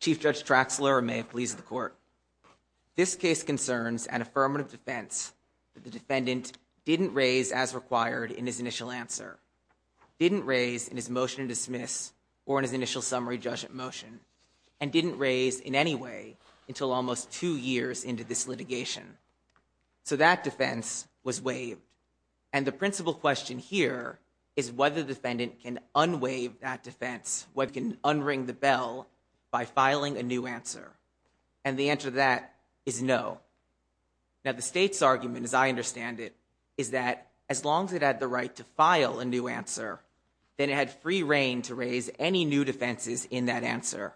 Chief Judge Traxler, and may it please the court. This case concerns an affirmative defense that the defendant didn't raise as required in his initial answer, didn't raise in his motion to dismiss or in his initial summary judgment motion, and didn't raise in any way until almost two years into this litigation. So that defense was waived. And the principal question here is whether the defendant can unwaive that defense, what can unring the bell by filing a new answer. And the answer to that is no. Now the state's argument, as I understand it, is that as long as it had the right to in that answer.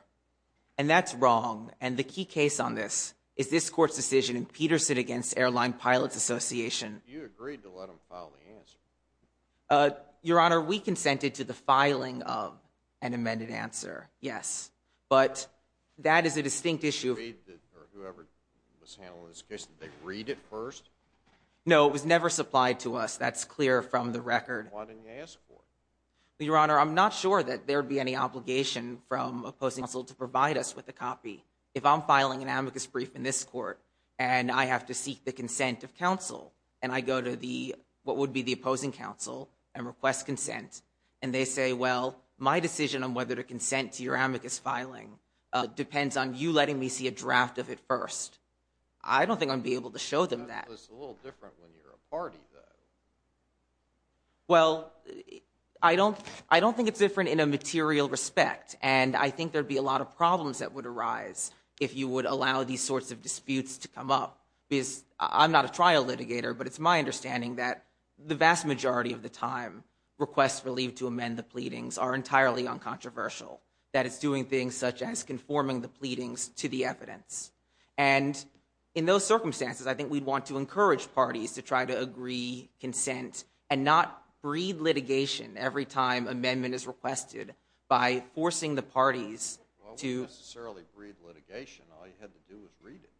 And that's wrong. And the key case on this is this court's decision in Peterson against Airline Pilots Association. You agreed to let him file the answer. Your Honor, we consented to the filing of an amended answer, yes, but that is a distinct issue. Or whoever was handling this case, did they read it first? No, it was never supplied to us. That's clear from the record. Why didn't you ask for it? Your Honor, I'm not sure that there'd be any obligation from opposing counsel to provide us with a copy. If I'm filing an amicus brief in this court, and I have to seek the consent of counsel, and I go to what would be the opposing counsel and request consent, and they say, well, my decision on whether to consent to your amicus filing depends on you letting me see a draft of it first. I don't think I'd be able to show them that. That's a little different when you're a party, though. Well, I don't think it's different in a material respect, and I think there'd be a lot of problems that would arise if you would allow these sorts of disputes to come up. I'm not a trial litigator, but it's my understanding that the vast majority of the time, requests relieved to amend the pleadings are entirely uncontroversial, that it's doing things such And in those circumstances, I think we'd want to encourage parties to try to agree consent and not breed litigation every time an amendment is requested by forcing the parties to... Well, it wouldn't necessarily breed litigation. All you had to do was read it.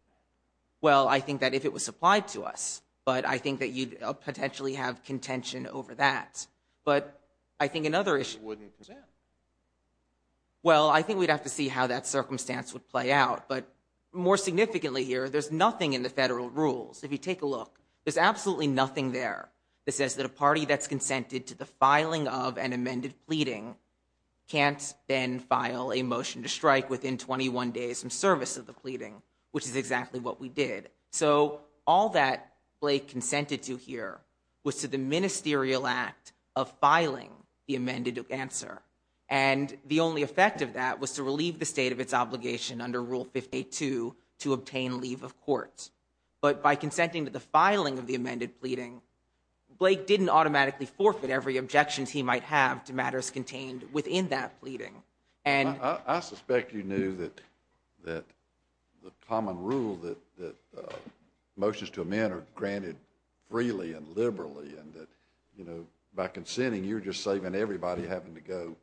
Well, I think that if it was applied to us, but I think that you'd potentially have contention over that. But I think another issue... You wouldn't consent. Well, I think we'd have to see how that circumstance would play out. But more significantly here, there's nothing in the federal rules. If you take a look, there's absolutely nothing there that says that a party that's consented to the filing of an amended pleading can't then file a motion to strike within 21 days from service of the pleading, which is exactly what we did. So all that Blake consented to here was to the ministerial act of filing the amended answer. And the only effect of that was to relieve the state of its obligation under Rule 52 to obtain leave of court. But by consenting to the filing of the amended pleading, Blake didn't automatically forfeit I suspect you knew that the common rule that motions to amend are granted freely and liberally and that by consenting, you're just saving everybody having to go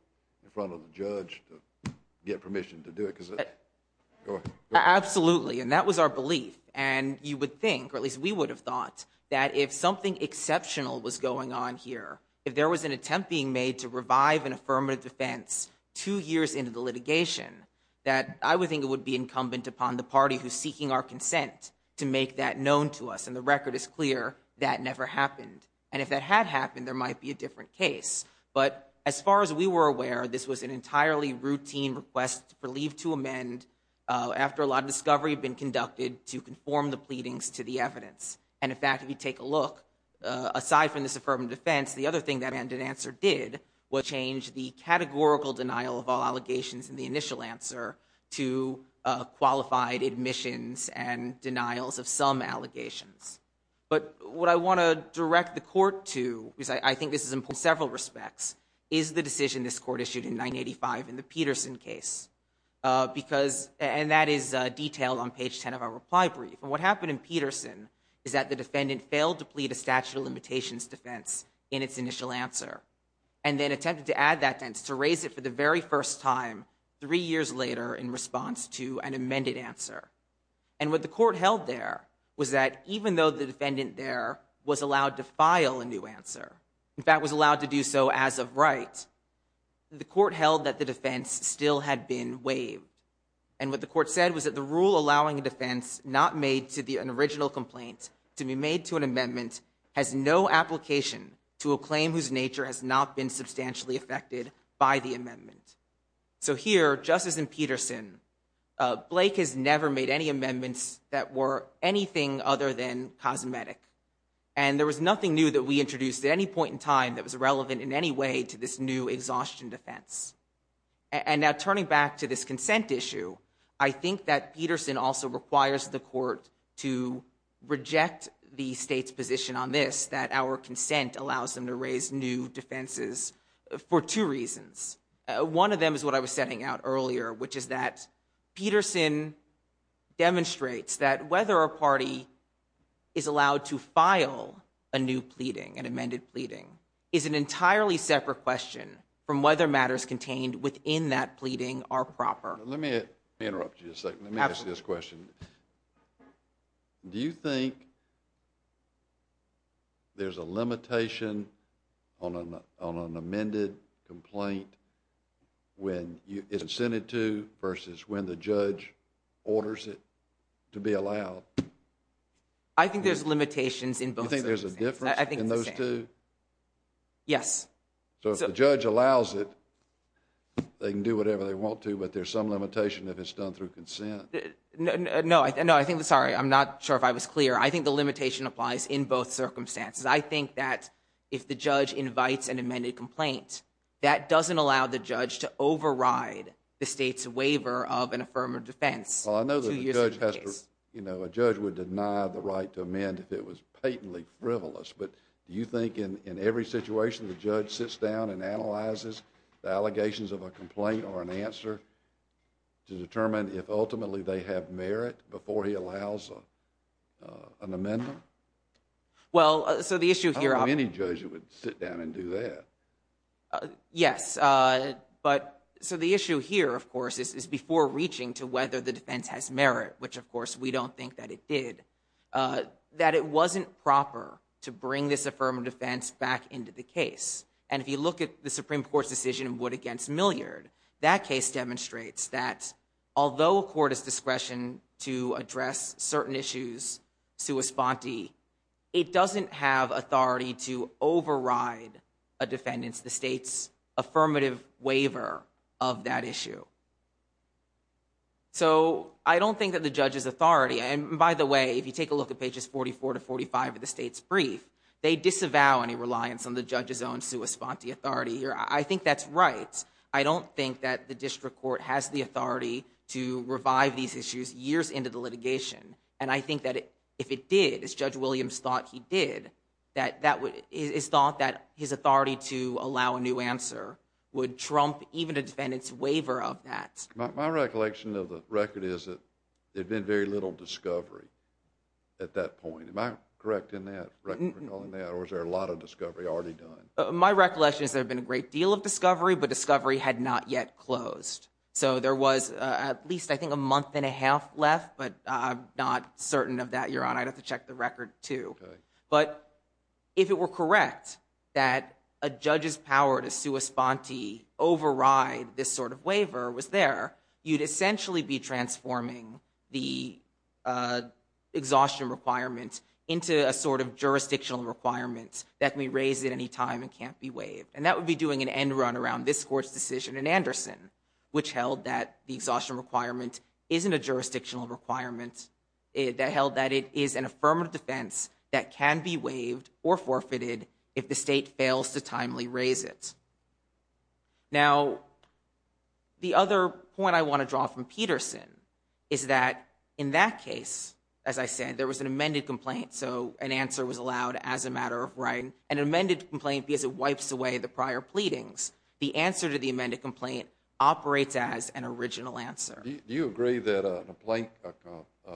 in front of the judge to get permission to do it. Absolutely. And that was our belief. And you would think, or at least we would have thought, that if something exceptional was going on here, if there was an attempt being made to revive an affirmative defense two years into the litigation, that I would think it would be incumbent upon the party who's seeking our consent to make that known to us. And the record is clear, that never happened. And if that had happened, there might be a different case. But as far as we were aware, this was an entirely routine request for leave to amend after a lot of discovery had been conducted to conform the pleadings to the evidence. And in fact, if you take a look, aside from this affirmative defense, the other thing that amended answer did was change the categorical denial of all allegations in the initial answer to qualified admissions and denials of some allegations. But what I want to direct the court to, because I think this is important in several respects, is the decision this court issued in 985 in the Peterson case. And that is detailed on page 10 of our reply brief. And what happened in Peterson is that the defendant failed to plead a statute of limitations defense in its initial answer. And then attempted to add that, to raise it for the very first time three years later in response to an amended answer. And what the court held there was that even though the defendant there was allowed to file a new answer, in fact was allowed to do so as of right, the court held that the defense still had been waived. And what the court said was that the rule allowing a defense not made to be an original complaint to be made to an amendment has no application to a claim whose nature has not been substantially affected by the amendment. So here, just as in Peterson, Blake has never made any amendments that were anything other than cosmetic. And there was nothing new that we introduced at any point in time that was relevant in any way to this new exhaustion defense. And now turning back to this consent issue, I think that Peterson also requires the court to reject the state's position on this, that our consent allows them to raise new defenses for two reasons. One of them is what I was setting out earlier, which is that Peterson demonstrates that whether a party is allowed to file a new pleading, an amended pleading, is an entirely separate question from whether matters contained within that pleading are proper. Let me interrupt you a second, let me ask you this question. Do you think there's a limitation on an amended complaint when it's incented to versus when the judge orders it to be allowed? I think there's limitations in both of those things. You think there's a difference in those two? Yes. So if the judge allows it, they can do whatever they want to, but there's some limitation if it's done through consent? No, no, I think, sorry, I'm not sure if I was clear. I think the limitation applies in both circumstances. I think that if the judge invites an amended complaint, that doesn't allow the judge to override the state's waiver of an affirmative defense. Well, I know that a judge would deny the right to amend if it was patently frivolous, but do you think in every situation, the judge sits down and analyzes the allegations of a complaint or an answer to determine if ultimately they have merit before he allows an amendment? Well, so the issue here... I don't know any judge that would sit down and do that. Yes, but so the issue here, of course, is before reaching to whether the defense has back into the case. And if you look at the Supreme Court's decision in Wood v. Milliard, that case demonstrates that although a court has discretion to address certain issues sua sponte, it doesn't have authority to override a defendant's, the state's, affirmative waiver of that issue. So I don't think that the judge has authority, and by the way, if you take a look at pages 44 to 45 of the state's brief, they disavow any reliance on the judge's own sua sponte authority here. I think that's right. I don't think that the district court has the authority to revive these issues years into the litigation. And I think that if it did, as Judge Williams thought he did, that his authority to allow a new answer would trump even a defendant's waiver of that. My recollection of the record is that there had been very little discovery at that point. Am I correct in that record, or is there a lot of discovery already done? My recollection is there had been a great deal of discovery, but discovery had not yet closed. So there was at least, I think, a month and a half left, but I'm not certain of that, Your Honor. I'd have to check the record, too. But if it were correct that a judge's power to sua sponte override this sort of waiver was there, you'd essentially be transforming the exhaustion requirement into a sort of jurisdictional requirement that can be raised at any time and can't be waived. And that would be doing an end run around this court's decision in Anderson, which held that the exhaustion requirement isn't a jurisdictional requirement. That held that it is an affirmative defense that can be waived or forfeited if the state fails to timely raise it. Now, the other point I want to draw from Peterson is that in that case, as I said, there was an amended complaint, so an answer was allowed as a matter of right. An amended complaint because it wipes away the prior pleadings. The answer to the amended complaint operates as an original answer. Do you agree that a plaintiff's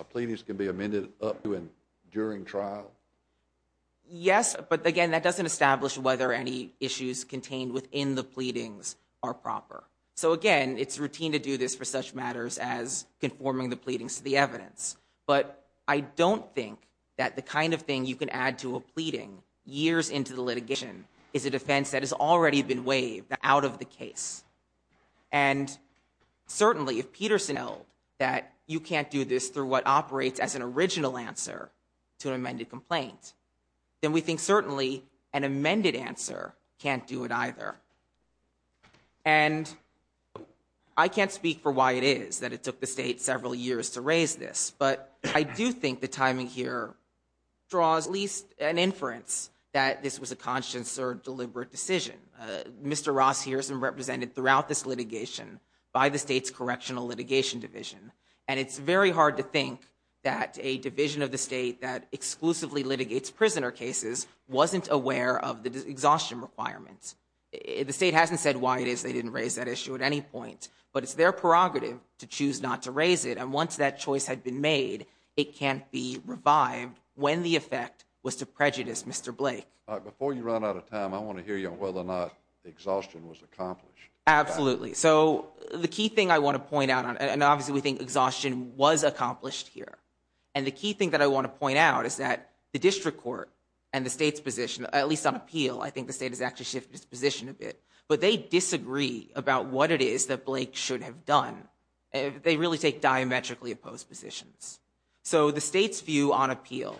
pleadings can be amended up to and during trial? Yes, but again, that doesn't establish whether any issues contained within the pleadings are proper. So, again, it's routine to do this for such matters as conforming the pleadings to the evidence. But I don't think that the kind of thing you can add to a pleading years into the litigation is a defense that has already been waived out of the case. And certainly, if Peterson held that you can't do this through what operates as an original answer to an amended complaint, then we think certainly an amended answer can't do it either. And I can't speak for why it is that it took the state several years to raise this. But I do think the timing here draws at least an inference that this was a conscious or deliberate decision. Mr. Ross here is represented throughout this litigation by the state's correctional litigation division. And it's very hard to think that a division of the state that exclusively litigates prisoner cases wasn't aware of the exhaustion requirements. The state hasn't said why it is they didn't raise that issue at any point. But it's their prerogative to choose not to raise it. And once that choice had been made, it can't be revived when the effect was to prejudice, Mr. Blake. Before you run out of time, I want to hear you on whether or not the exhaustion was accomplished. Absolutely. So the key thing I want to point out, and obviously we think exhaustion was accomplished here. And the key thing that I want to point out is that the district court and the state's position, at least on appeal, I think the state has actually shifted its position a bit. But they disagree about what it is that Blake should have done. They really take diametrically opposed positions. So the state's view on appeal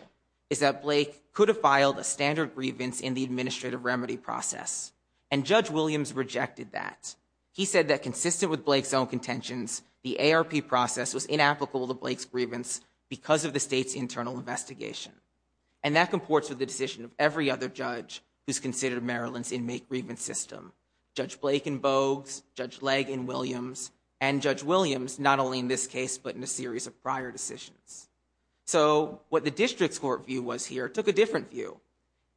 is that Blake could have filed a standard grievance in the administrative remedy process. And Judge Williams rejected that. He said that consistent with Blake's own contentions, the ARP process was inapplicable to Blake's grievance because of the state's internal investigation. And that comports with the decision of every other judge who's considered Maryland's inmate grievance system. Judge Blake in Bogues, Judge Legge in Williams, and Judge Williams not only in this case but in a series of prior decisions. So what the district's court view was here took a different view.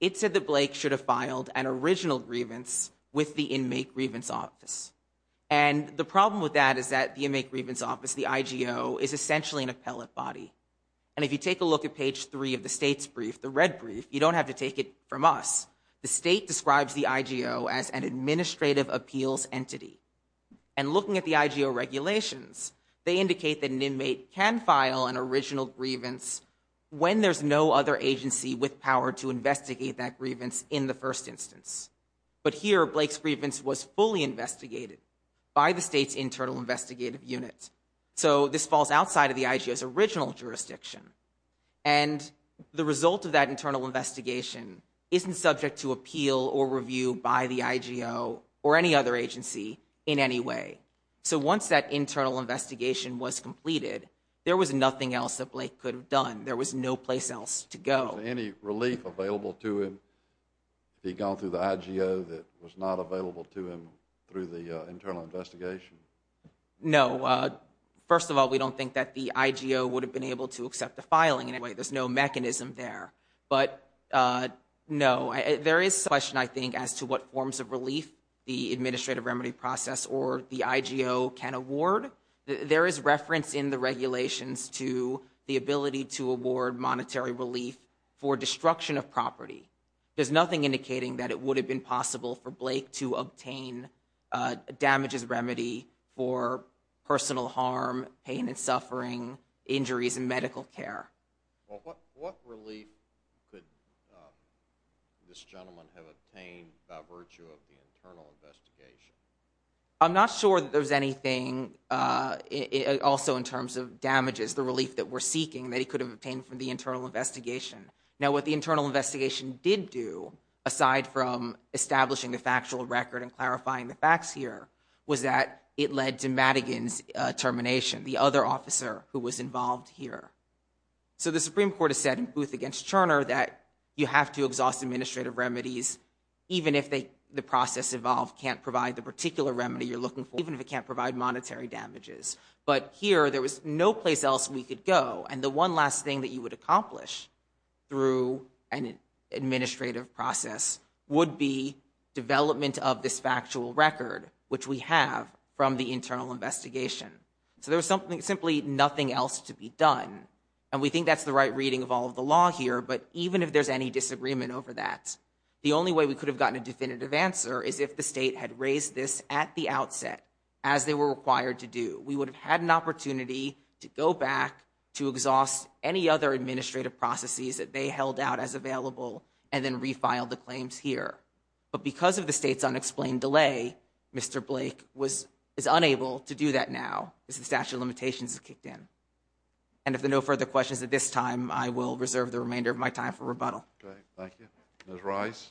It said that Blake should have filed an original grievance with the inmate grievance office. And the problem with that is that the inmate grievance office, the IGO, is essentially an appellate body. And if you take a look at page three of the state's brief, the red brief, you don't have to take it from us. The state describes the IGO as an administrative appeals entity. And looking at the IGO regulations, they indicate that an inmate can file an original grievance when there's no other agency with power to investigate that grievance in the first instance. But here, Blake's grievance was fully investigated by the state's internal investigative unit. So this falls outside of the IGO's original jurisdiction. And the result of that internal investigation isn't subject to appeal or review by the IGO or any other agency in any way. So once that internal investigation was completed, there was nothing else that Blake could have done. There was no place else to go. Is there any relief available to him if he had gone through the IGO that was not available to him through the internal investigation? No. First of all, we don't think that the IGO would have been able to accept the filing in any way. There's no mechanism there. But no. There is a question, I think, as to what forms of relief the administrative remedy process or the IGO can award. There is reference in the regulations to the ability to award monetary relief for destruction of property. There's nothing indicating that it would have been possible for Blake to obtain damages remedy for personal harm, pain and suffering, injuries in medical care. What relief could this gentleman have obtained by virtue of the internal investigation? I'm not sure that there's anything also in terms of damages, the relief that we're seeking that he could have obtained from the internal investigation. Now what the internal investigation did do, aside from establishing the factual record and clarifying the facts here, was that it led to Madigan's termination, the other officer who was involved here. So the Supreme Court has said in Booth against Turner that you have to exhaust administrative remedies even if the process involved can't provide the particular remedy you're looking for, even if it can't provide monetary damages. But here there was no place else we could go. And the one last thing that you would accomplish through an administrative process would be development of this factual record, which we have from the internal investigation. So there was simply nothing else to be done. And we think that's the right reading of all of the law here. But even if there's any disagreement over that, the only way we could have gotten a definitive answer is if the state had raised this at the outset, as they were required to do. We would have had an opportunity to go back to exhaust any other administrative processes that they held out as available and then refiled the claims here. But because of the state's unexplained delay, Mr. Blake was unable to do that now as the statute of limitations kicked in. And if there are no further questions at this time, I will reserve the remainder of my time for rebuttal. Great. Thank you. Ms. Rice?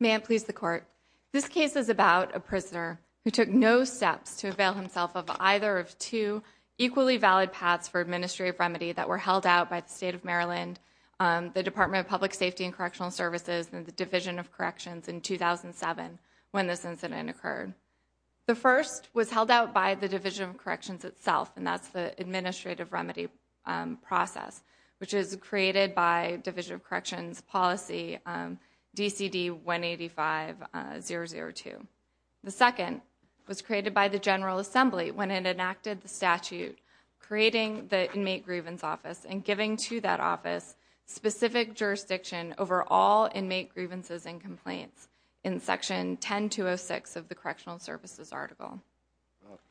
May I please the court? This case is about a prisoner who took no steps to avail himself of either of two equally valid paths for administrative remedy that were held out by the state of Maryland, the Department of Public Safety and Correctional Services, and the Division of Corrections in 2007 when this incident occurred. The first was held out by the Division of Corrections itself, and that's the administrative remedy process, which is created by Division of Corrections policy, DCD 185-002. The second was created by the General Assembly when it enacted the statute, creating the jurisdiction over all inmate grievances and complaints in Section 10206 of the Correctional Services article.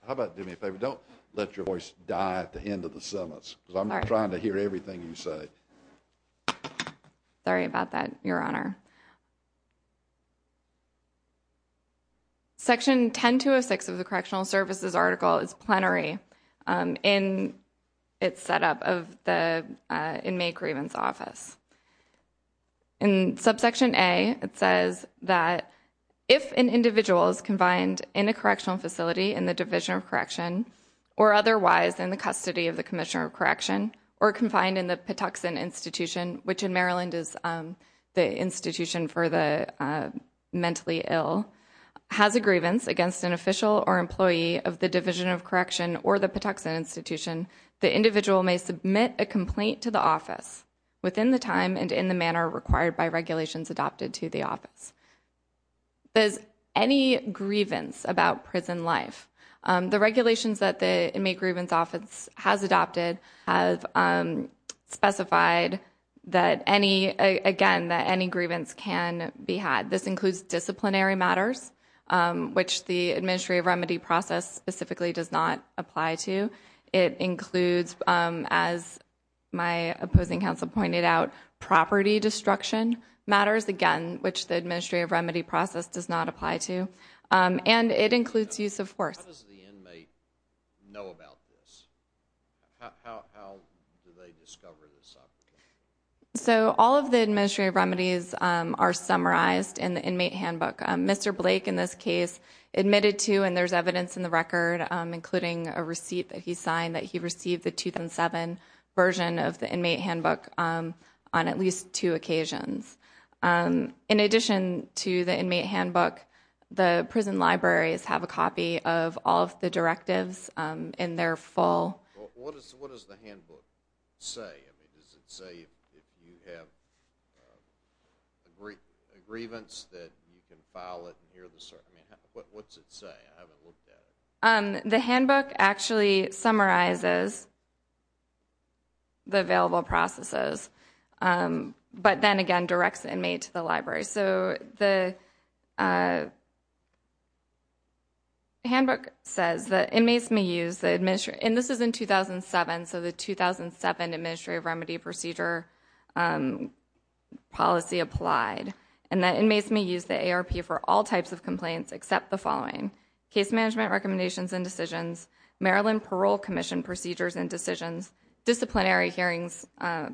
How about, do me a favor, don't let your voice die at the end of the sentence, because I'm not trying to hear everything you say. Sorry about that, Your Honor. Section 10206 of the Correctional Services article is plenary in its setup of the Inmate Grievance Office. In subsection A, it says that if an individual is confined in a correctional facility in the Division of Correction, or otherwise in the custody of the Commissioner of Correction, or confined in the Patuxent Institution, which in Maryland is the institution for the mentally ill, has a grievance against an official or employee of the Division of Correction or the Patuxent Institution, the individual may submit a complaint to the office within the time and in the manner required by regulations adopted to the office. Does any grievance about prison life, the regulations that the Inmate Grievance Office has adopted have specified that any, again, that any grievance can be had. This includes disciplinary matters, which the Administrative Remedy process specifically does not apply to. It includes, as my opposing counsel pointed out, property destruction matters, again, which the Administrative Remedy process does not apply to. And it includes use of force. How does the inmate know about this? How do they discover this? So all of the Administrative Remedies are summarized in the Inmate Handbook. Mr. Blake, in this case, admitted to, and there's evidence in the record, including a receipt that he signed, that he received the 2007 version of the Inmate Handbook on at least two occasions. In addition to the Inmate Handbook, the prison libraries have a copy of all of the directives in their full. What does the Handbook say? I mean, does it say if you have a grievance that you can file it and you're the, I mean, what's it say? I haven't looked at it. The Handbook actually summarizes the available processes, but then again, directs the inmate to the library. So the Handbook says that inmates may use the, and this is in 2007, so the 2007 Administrative Remedy Procedure policy applied, and that inmates may use the ARP for all types of complaints except the following, case management recommendations and decisions, Maryland Parole Commission procedures and decisions, disciplinary hearings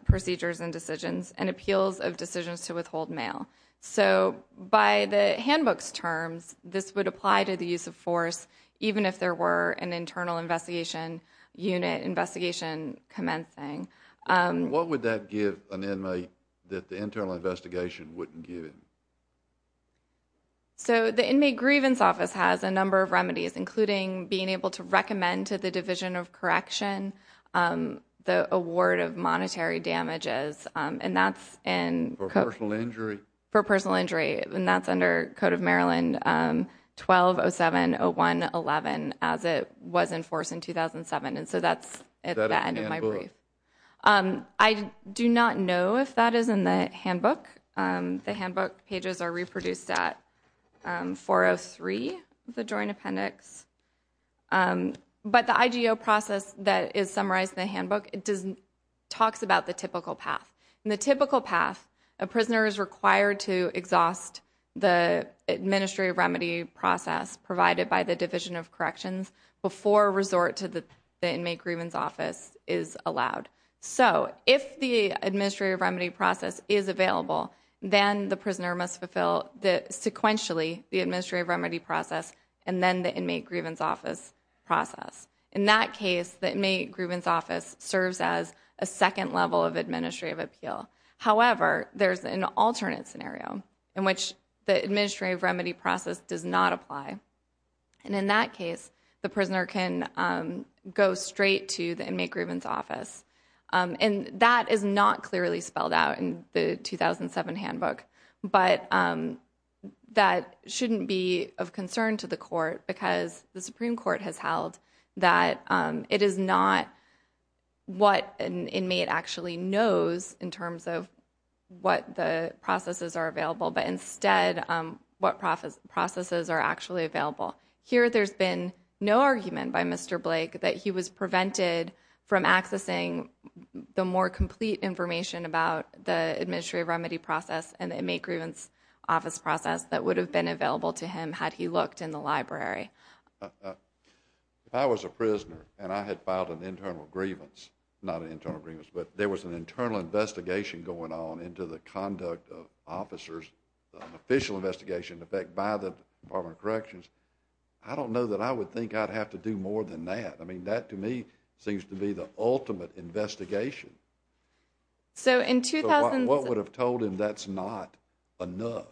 procedures and decisions, and appeals of decisions to withhold mail. So by the Handbook's terms, this would apply to the use of force even if there were an What would that give an inmate that the internal investigation wouldn't give him? So the Inmate Grievance Office has a number of remedies, including being able to recommend to the Division of Correction the award of monetary damages, and that's in For personal injury? For personal injury, and that's under Code of Maryland 1207011 as it was enforced in 2007, and so that's at the end of my brief. I do not know if that is in the Handbook. The Handbook pages are reproduced at 403, the Joint Appendix, but the IGO process that is summarized in the Handbook, it doesn't, talks about the typical path, and the typical path a prisoner is required to exhaust the Administrative Remedy process provided by the Division of Corrections before a resort to the Inmate Grievance Office is allowed. So if the Administrative Remedy process is available, then the prisoner must fulfill the sequentially the Administrative Remedy process, and then the Inmate Grievance Office process. In that case, the Inmate Grievance Office serves as a second level of administrative appeal. However, there's an alternate scenario in which the Administrative Remedy process does not apply, and in that case, the prisoner can go straight to the Inmate Grievance Office, and that is not clearly spelled out in the 2007 Handbook, but that shouldn't be of concern to the Court because the Supreme Court has held that it is not what an inmate actually knows in terms of what the processes are available, but instead what processes are actually available. Here there's been no argument by Mr. Blake that he was prevented from accessing the more complete information about the Administrative Remedy process and the Inmate Grievance Office process that would have been available to him had he looked in the library. If I was a prisoner and I had filed an internal grievance, not an internal grievance, but there was an internal investigation going on into the conduct of officers, an official investigation in effect by the Department of Corrections, I don't know that I would think I'd have to do more than that. I mean, that to me seems to be the ultimate investigation. So what would have told him that's not enough?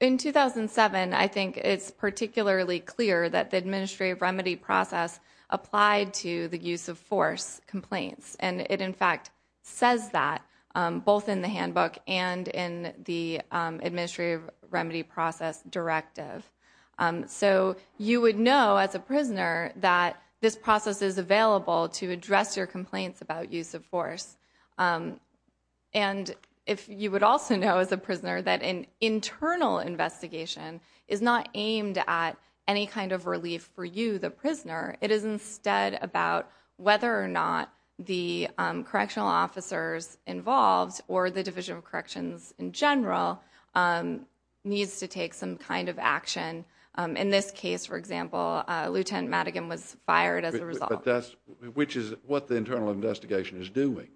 In 2007, I think it's particularly clear that the Administrative Remedy process applied to the use of force complaints. And it in fact says that both in the handbook and in the Administrative Remedy process directive. So you would know as a prisoner that this process is available to address your complaints about use of force. And if you would also know as a prisoner that an internal investigation is not aimed at any kind of relief for you, the prisoner. It is instead about whether or not the correctional officers involved or the Division of Corrections in general needs to take some kind of action. In this case, for example, Lieutenant Madigan was fired as a result. Which is what the internal investigation is doing.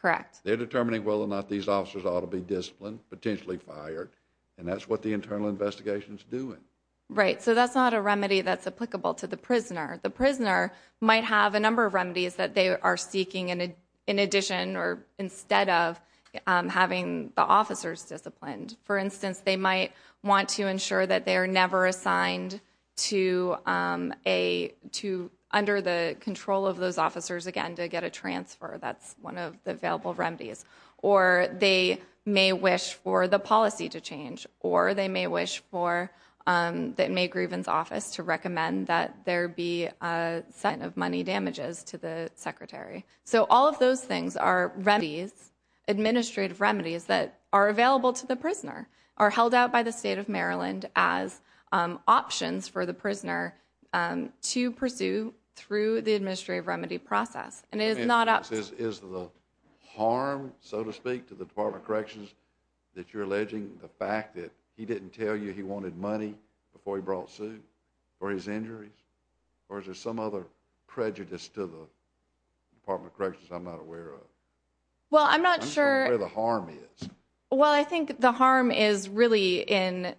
Correct. They're determining whether or not these officers ought to be disciplined, potentially fired, and that's what the internal investigation is doing. Right. So that's not a remedy that's applicable to the prisoner. The prisoner might have a number of remedies that they are seeking in addition or instead of having the officers disciplined. For instance, they might want to ensure that they are never assigned to under the control of those officers again to get a transfer. That's one of the available remedies. Or they may wish for the policy to change. Or they may wish for the May Grievance Office to recommend that there be a set of money damages to the Secretary. So all of those things are remedies, administrative remedies, that are available to the prisoner, are held out by the State of Maryland as options for the prisoner to pursue through the administrative remedy process. And it is not up to... Is the harm, so to speak, to the Department of Corrections that you're alleging the fact that he didn't tell you he wanted money before he brought suit for his injuries? Or is there some other prejudice to the Department of Corrections I'm not aware of? Well I'm not sure... I'm not aware of where the harm is. Well I think the harm is really in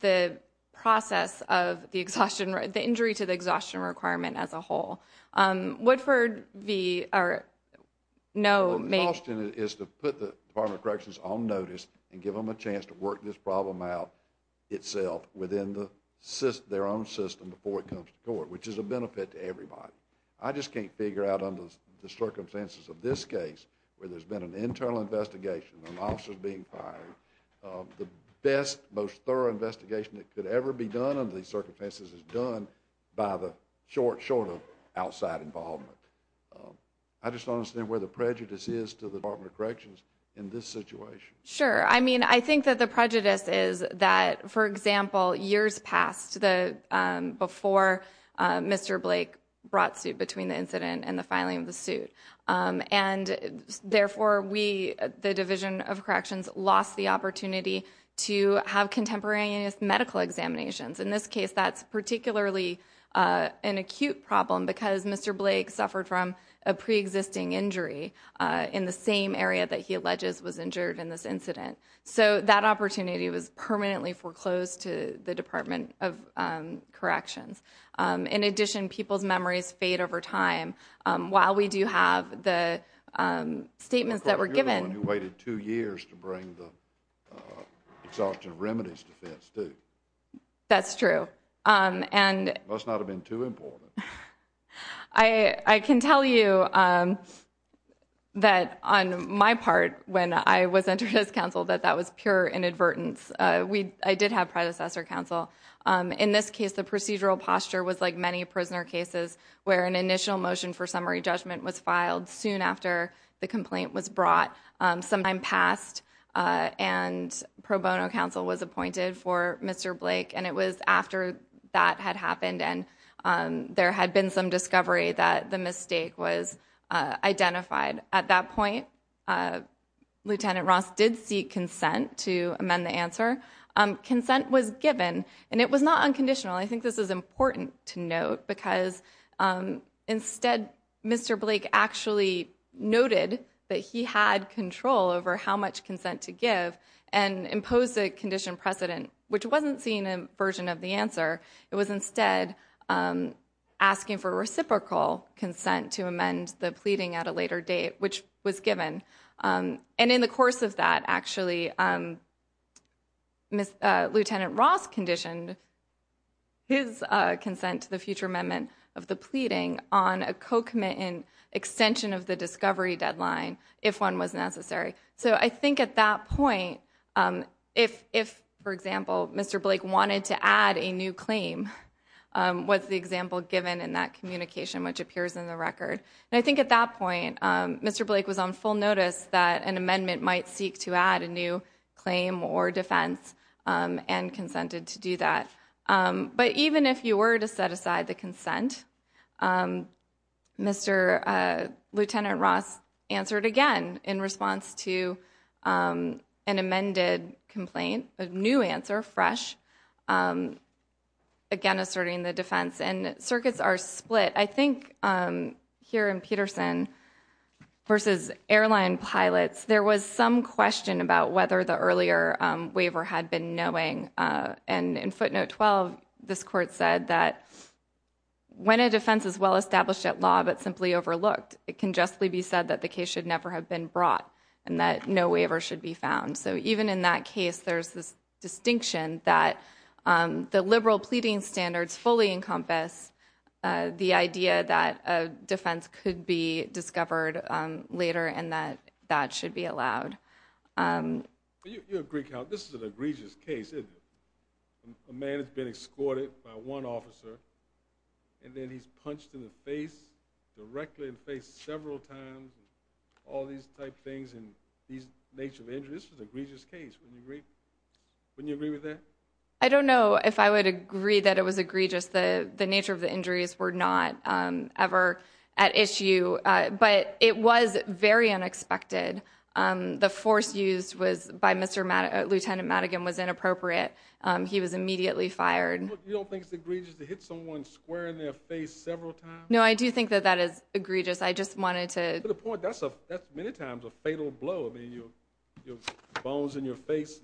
the process of the injury to the exhaustion requirement as a whole. Woodford v... The exhaustion is to put the Department of Corrections on notice and give them a chance to work this problem out itself within their own system before it comes to court, which is a benefit to everybody. I just can't figure out under the circumstances of this case where there's been an internal investigation, an officer's being fired, the best, most thorough investigation that could ever be done under these circumstances is done by the short of outside involvement. I just don't understand where the prejudice is to the Department of Corrections in this situation. Sure. I mean I think that the prejudice is that, for example, years passed before Mr. Blake brought suit between the incident and the filing of the suit and therefore we, the Division of Corrections, lost the opportunity to have contemporaneous medical examinations. In this case that's particularly an acute problem because Mr. Blake suffered from a So that opportunity was permanently foreclosed to the Department of Corrections. In addition, people's memories fade over time. While we do have the statements that were given... You're the one who waited two years to bring the exhaustion remedies defense, too. That's true. It must not have been too important. I can tell you that on my part when I was entered as counsel that that was pure inadvertence. I did have predecessor counsel. In this case the procedural posture was like many prisoner cases where an initial motion for summary judgment was filed soon after the complaint was brought. Some time passed and pro bono counsel was appointed for Mr. Blake and it was after that had happened and there had been some discovery that the mistake was identified. At that point, Lieutenant Ross did seek consent to amend the answer. Consent was given and it was not unconditional. I think this is important to note because instead Mr. Blake actually noted that he had control over how much consent to give and imposed a condition precedent, which wasn't seen in a version of the answer. It was instead asking for reciprocal consent to amend the pleading at a later date, which was given. And in the course of that actually, Lieutenant Ross conditioned his consent to the future amendment of the pleading on a co-commitment extension of the discovery deadline if one was necessary. I think at that point, if, for example, Mr. Blake wanted to add a new claim, was the example given in that communication, which appears in the record. I think at that point Mr. Blake was on full notice that an amendment might seek to add a new claim or defense and consented to do that. But even if you were to set aside the consent, Lieutenant Ross answered again in response to an amended complaint, a new answer, fresh, again asserting the defense. And circuits are split. I think here in Peterson versus airline pilots, there was some question about whether the earlier waiver had been knowing. And in footnote 12, this court said that when a defense is well established at law but simply overlooked, it can justly be said that the case should never have been brought and that no waiver should be found. So even in that case, there's this distinction that the liberal pleading standards fully encompass the idea that a defense could be discovered later and that that should be allowed. You agree, count, this is an egregious case, isn't it? A man has been escorted by one officer and then he's punched in the face, directly in the face several times, all these type things and these nature of injuries. This was an egregious case. Wouldn't you agree? Wouldn't you agree with that? I don't know if I would agree that it was egregious. The nature of the injuries were not ever at issue, but it was very unexpected. The force used by Lieutenant Madigan was inappropriate. He was immediately fired. You don't think it's egregious to hit someone square in their face several times? No, I do think that that is egregious. I just wanted to... To the point, that's many times a fatal blow. I mean, your bones in your face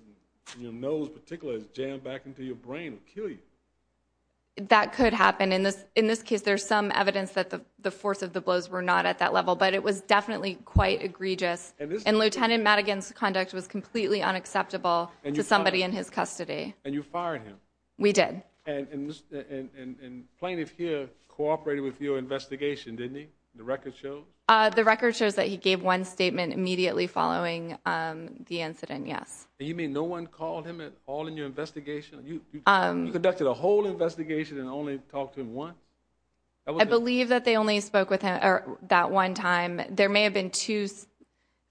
and your nose in particular is jammed back into your brain and kill you. That could happen. In this case, there's some evidence that the force of the blows were not at that level, but it was definitely quite egregious. And Lieutenant Madigan's conduct was completely unacceptable to somebody in his custody. And you fired him? We did. And plaintiff here cooperated with your investigation, didn't he? The record shows? The record shows that he gave one statement immediately following the incident, yes. You mean no one called him at all in your investigation? You conducted a whole investigation and only talked to him once? I believe that they only spoke with him that one time. There may have been two...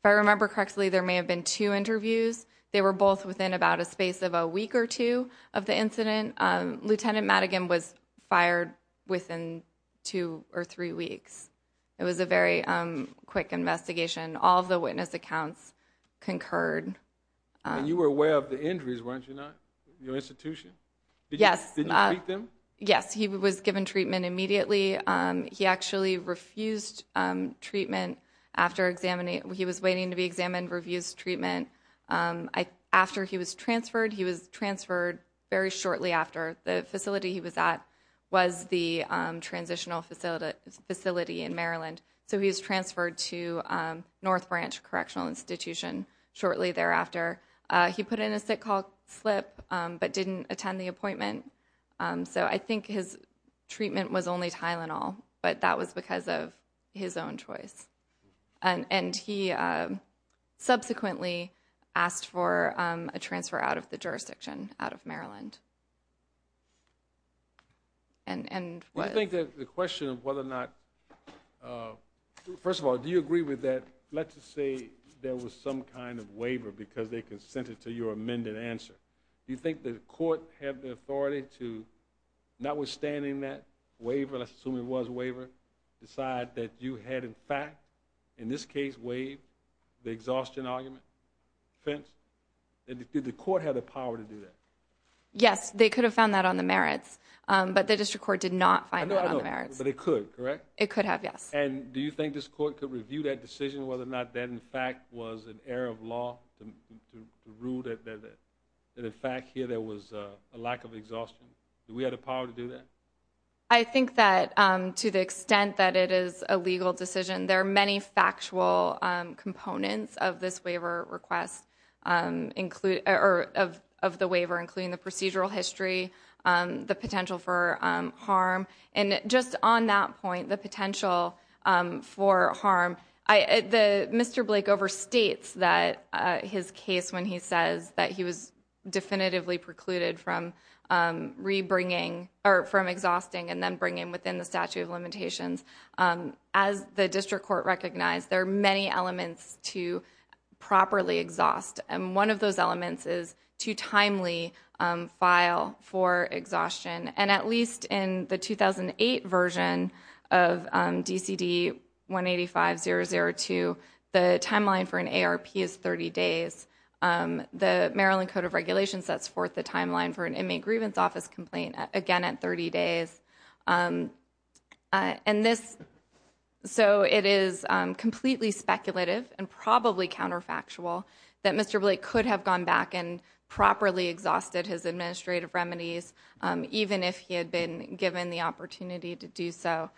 If I remember correctly, there may have been two interviews. They were both within about a space of a week or two of the incident. Lieutenant Madigan was fired within two or three weeks. It was a very quick investigation. All of the witness accounts concurred. You were aware of the injuries, weren't you not? Your institution? Yes. Did you treat them? Yes, he was given treatment immediately. He actually refused treatment after examining... He was waiting to be examined, refused treatment. After he was transferred, he was transferred very shortly after. The facility he was at was the transitional facility in Maryland. So he was transferred to North Branch Correctional Institution shortly thereafter. He put in a sick call slip, but didn't attend the appointment. So I think his treatment was only Tylenol, but that was because of his own choice. And he subsequently asked for a transfer out of the jurisdiction, out of Maryland. Do you think that the question of whether or not... First of all, do you agree with that, let's just say there was some kind of waiver because they consented to your amended answer. Do you think the court had the authority to, notwithstanding that waiver, let's assume it was a waiver, decide that you had in fact, in this case, waived the exhaustion argument, defense? Did the court have the power to do that? Yes, they could have found that on the merits, but the district court did not find that on the merits. But it could, correct? It could have, yes. And do you think this court could review that decision whether or not that in fact was an exhaustion? Do we have the power to do that? I think that to the extent that it is a legal decision, there are many factual components of this waiver request, or of the waiver, including the procedural history, the potential for harm, and just on that point, the potential for harm, Mr. Blake overstates that his case when he says that he was definitively precluded from exhausting and then bringing within the statute of limitations. As the district court recognized, there are many elements to properly exhaust, and one of those elements is to timely file for exhaustion. And at least in the 2008 version of DCD 185-002, the timeline for an ARP is 30 days. The Maryland Code of Regulations sets forth the timeline for an inmate grievance office complaint, again, at 30 days. So it is completely speculative and probably counterfactual that Mr. Blake could have gone back and properly exhausted his administrative remedies, even if he had been given the opportunity to do so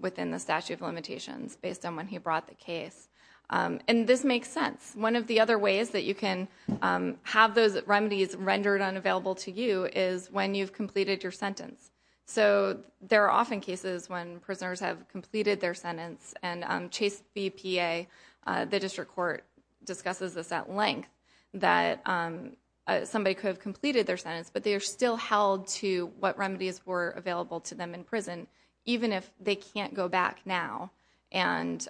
within the statute of limitations based on when he brought the case. And this makes sense. One of the other ways that you can have those remedies rendered unavailable to you is when you've completed your sentence. So there are often cases when prisoners have completed their sentence, and Chase BPA, the somebody could have completed their sentence, but they are still held to what remedies were available to them in prison, even if they can't go back now and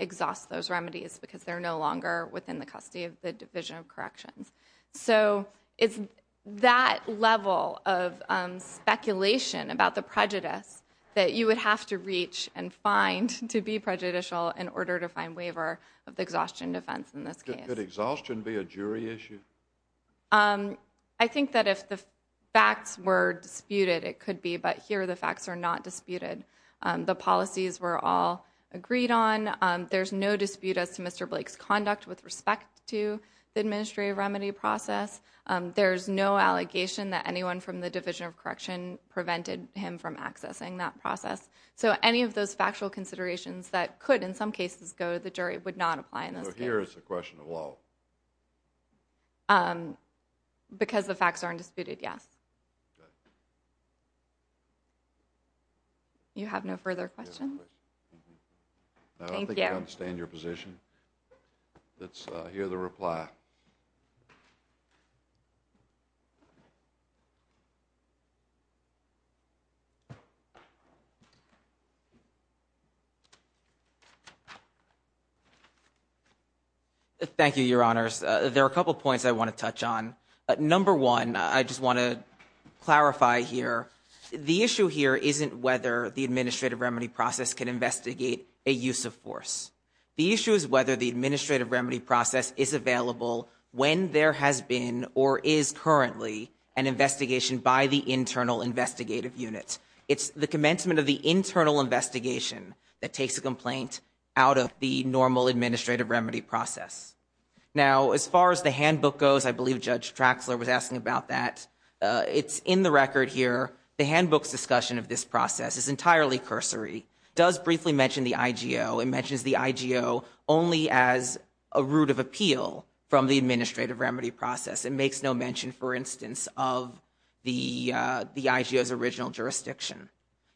exhaust those remedies because they're no longer within the custody of the Division of Corrections. So it's that level of speculation about the prejudice that you would have to reach and find to be prejudicial in order to find waiver of the exhaustion defense in this case. Could exhaustion be a jury issue? I think that if the facts were disputed, it could be, but here the facts are not disputed. The policies were all agreed on. There's no dispute as to Mr. Blake's conduct with respect to the administrative remedy process. There's no allegation that anyone from the Division of Correction prevented him from accessing that process. So any of those factual considerations that could, in some cases, go to the jury would not apply in this case. So here is the question of law? Because the facts aren't disputed, yes. You have no further questions? No, I think I understand your position. Thank you. Let's hear the reply. Thank you, Your Honors. There are a couple of points I want to touch on. Number one, I just want to clarify here, the issue here isn't whether the administrative remedy process can investigate a use of force. The issue is whether the administrative remedy process is available when there has been or is currently an investigation by the internal investigative unit. It's the commencement of the internal investigation that takes a complaint out of the normal administrative remedy process. Now, as far as the handbook goes, I believe Judge Traxler was asking about that. It's in the record here. The handbook's discussion of this process is entirely cursory, does briefly mention the IGO. It mentions the IGO only as a route of appeal from the administrative remedy process. It makes no mention, for instance, of the IGO's original jurisdiction.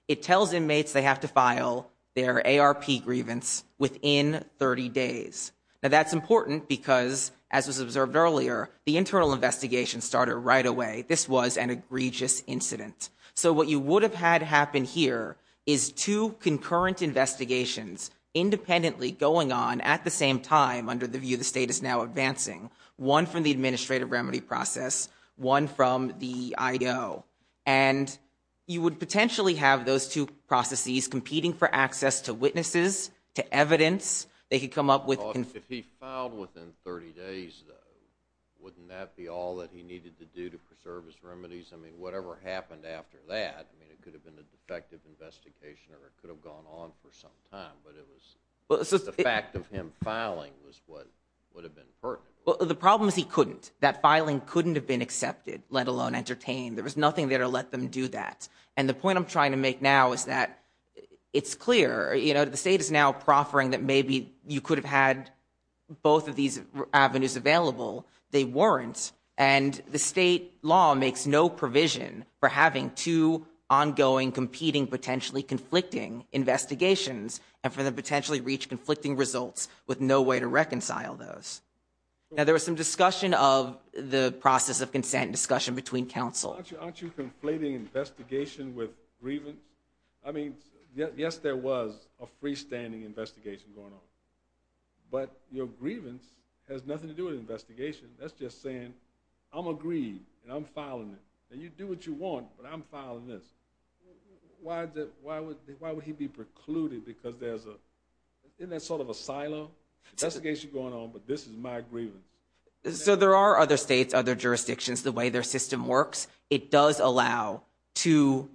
It tells inmates they have to file their ARP grievance within 30 days. Now, that's important because, as was observed earlier, the internal investigation started right away. This was an egregious incident. So what you would have had happen here is two concurrent investigations independently going on at the same time under the view the state is now advancing, one from the administrative remedy process, one from the IGO. You would potentially have those two processes competing for access to witnesses, to evidence. They could come up with... If he filed within 30 days, though, wouldn't that be all that he needed to do to preserve his remedies? I mean, whatever happened after that, I mean, it could have been a defective investigation or it could have gone on for some time, but the fact of him filing was what would have been pertinent. Well, the problem is he couldn't. That filing couldn't have been accepted, let alone entertained. There was nothing there to let them do that. And the point I'm trying to make now is that it's clear, you know, the state is now proffering that maybe you could have had both of these avenues available. They weren't. And the state law makes no provision for having two ongoing, competing, potentially conflicting investigations and for them to potentially reach conflicting results with no way to reconcile those. Now, there was some discussion of the process of consent, discussion between counsel. Aren't you conflating investigation with grievance? I mean, yes, there was a freestanding investigation going on. But your grievance has nothing to do with investigation. That's just saying, I'm agreed and I'm filing it and you do what you want, but I'm filing this. Why would he be precluded? Because there's a, isn't that sort of asylum, investigation going on, but this is my grievance. So there are other states, other jurisdictions, the way their system works. It does allow two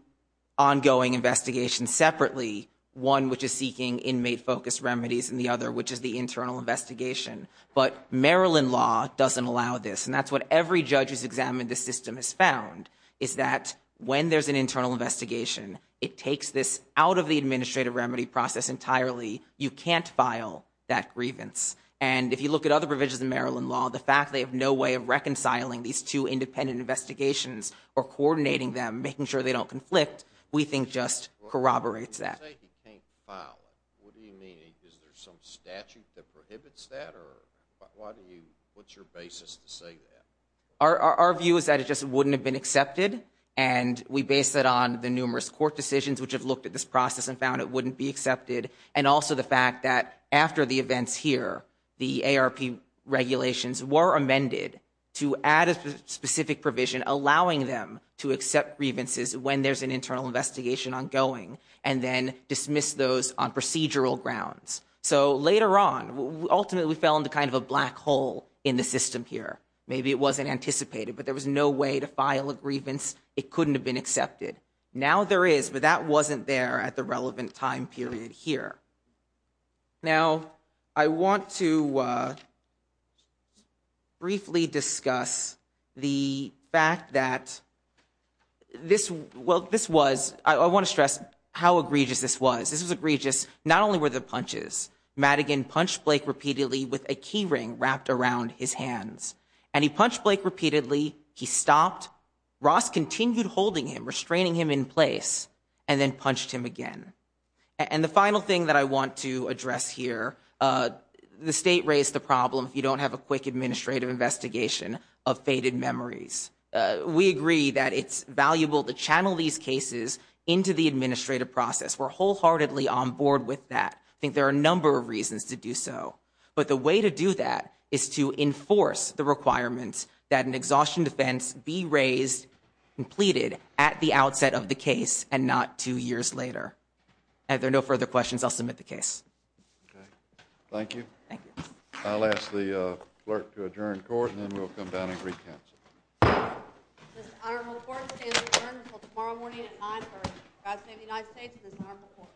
ongoing investigations separately, one which is seeking inmate focused remedies and the other, which is the internal investigation. But Maryland law doesn't allow this. And that's what every judge who's examined the system has found, is that when there's an internal investigation, it takes this out of the administrative remedy process entirely. You can't file that grievance. And if you look at other provisions of Maryland law, the fact they have no way of reconciling these two independent investigations or coordinating them, making sure they don't conflict, we think just corroborates that. When you say you can't file it, what do you mean? Is there some statute that prohibits that or why do you, what's your basis to say that? Our view is that it just wouldn't have been accepted. And we based it on the numerous court decisions, which have looked at this process and found it wouldn't be accepted. And also the fact that after the events here, the ARP regulations were amended to add a specific provision, allowing them to accept grievances when there's an internal investigation ongoing and then dismiss those on procedural grounds. So later on, ultimately we fell into kind of a black hole in the system here. Maybe it wasn't anticipated, but there was no way to file a grievance. It couldn't have been accepted. Now there is, but that wasn't there at the relevant time period here. Now, I want to briefly discuss the fact that this, well, this was, I want to stress how egregious this was. This was egregious. Not only were the punches, Madigan punched Blake repeatedly with a key ring wrapped around his hands and he punched Blake repeatedly. He stopped, Ross continued holding him, restraining him in place and then punched him again. And the final thing that I want to address here, the state raised the problem if you don't have a quick administrative investigation of faded memories. We agree that it's valuable to channel these cases into the administrative process. We're wholeheartedly on board with that. I think there are a number of reasons to do so, but the way to do that is to enforce the requirements that an exhaustion defense be raised, completed at the outset of the case and not two years later. If there are no further questions, I'll submit the case. Thank you. Thank you. I'll ask the clerk to adjourn court and then we'll come down and re-counsel. This honorable court stands adjourned until tomorrow morning at 9 o'clock. God save the United States and this honorable court.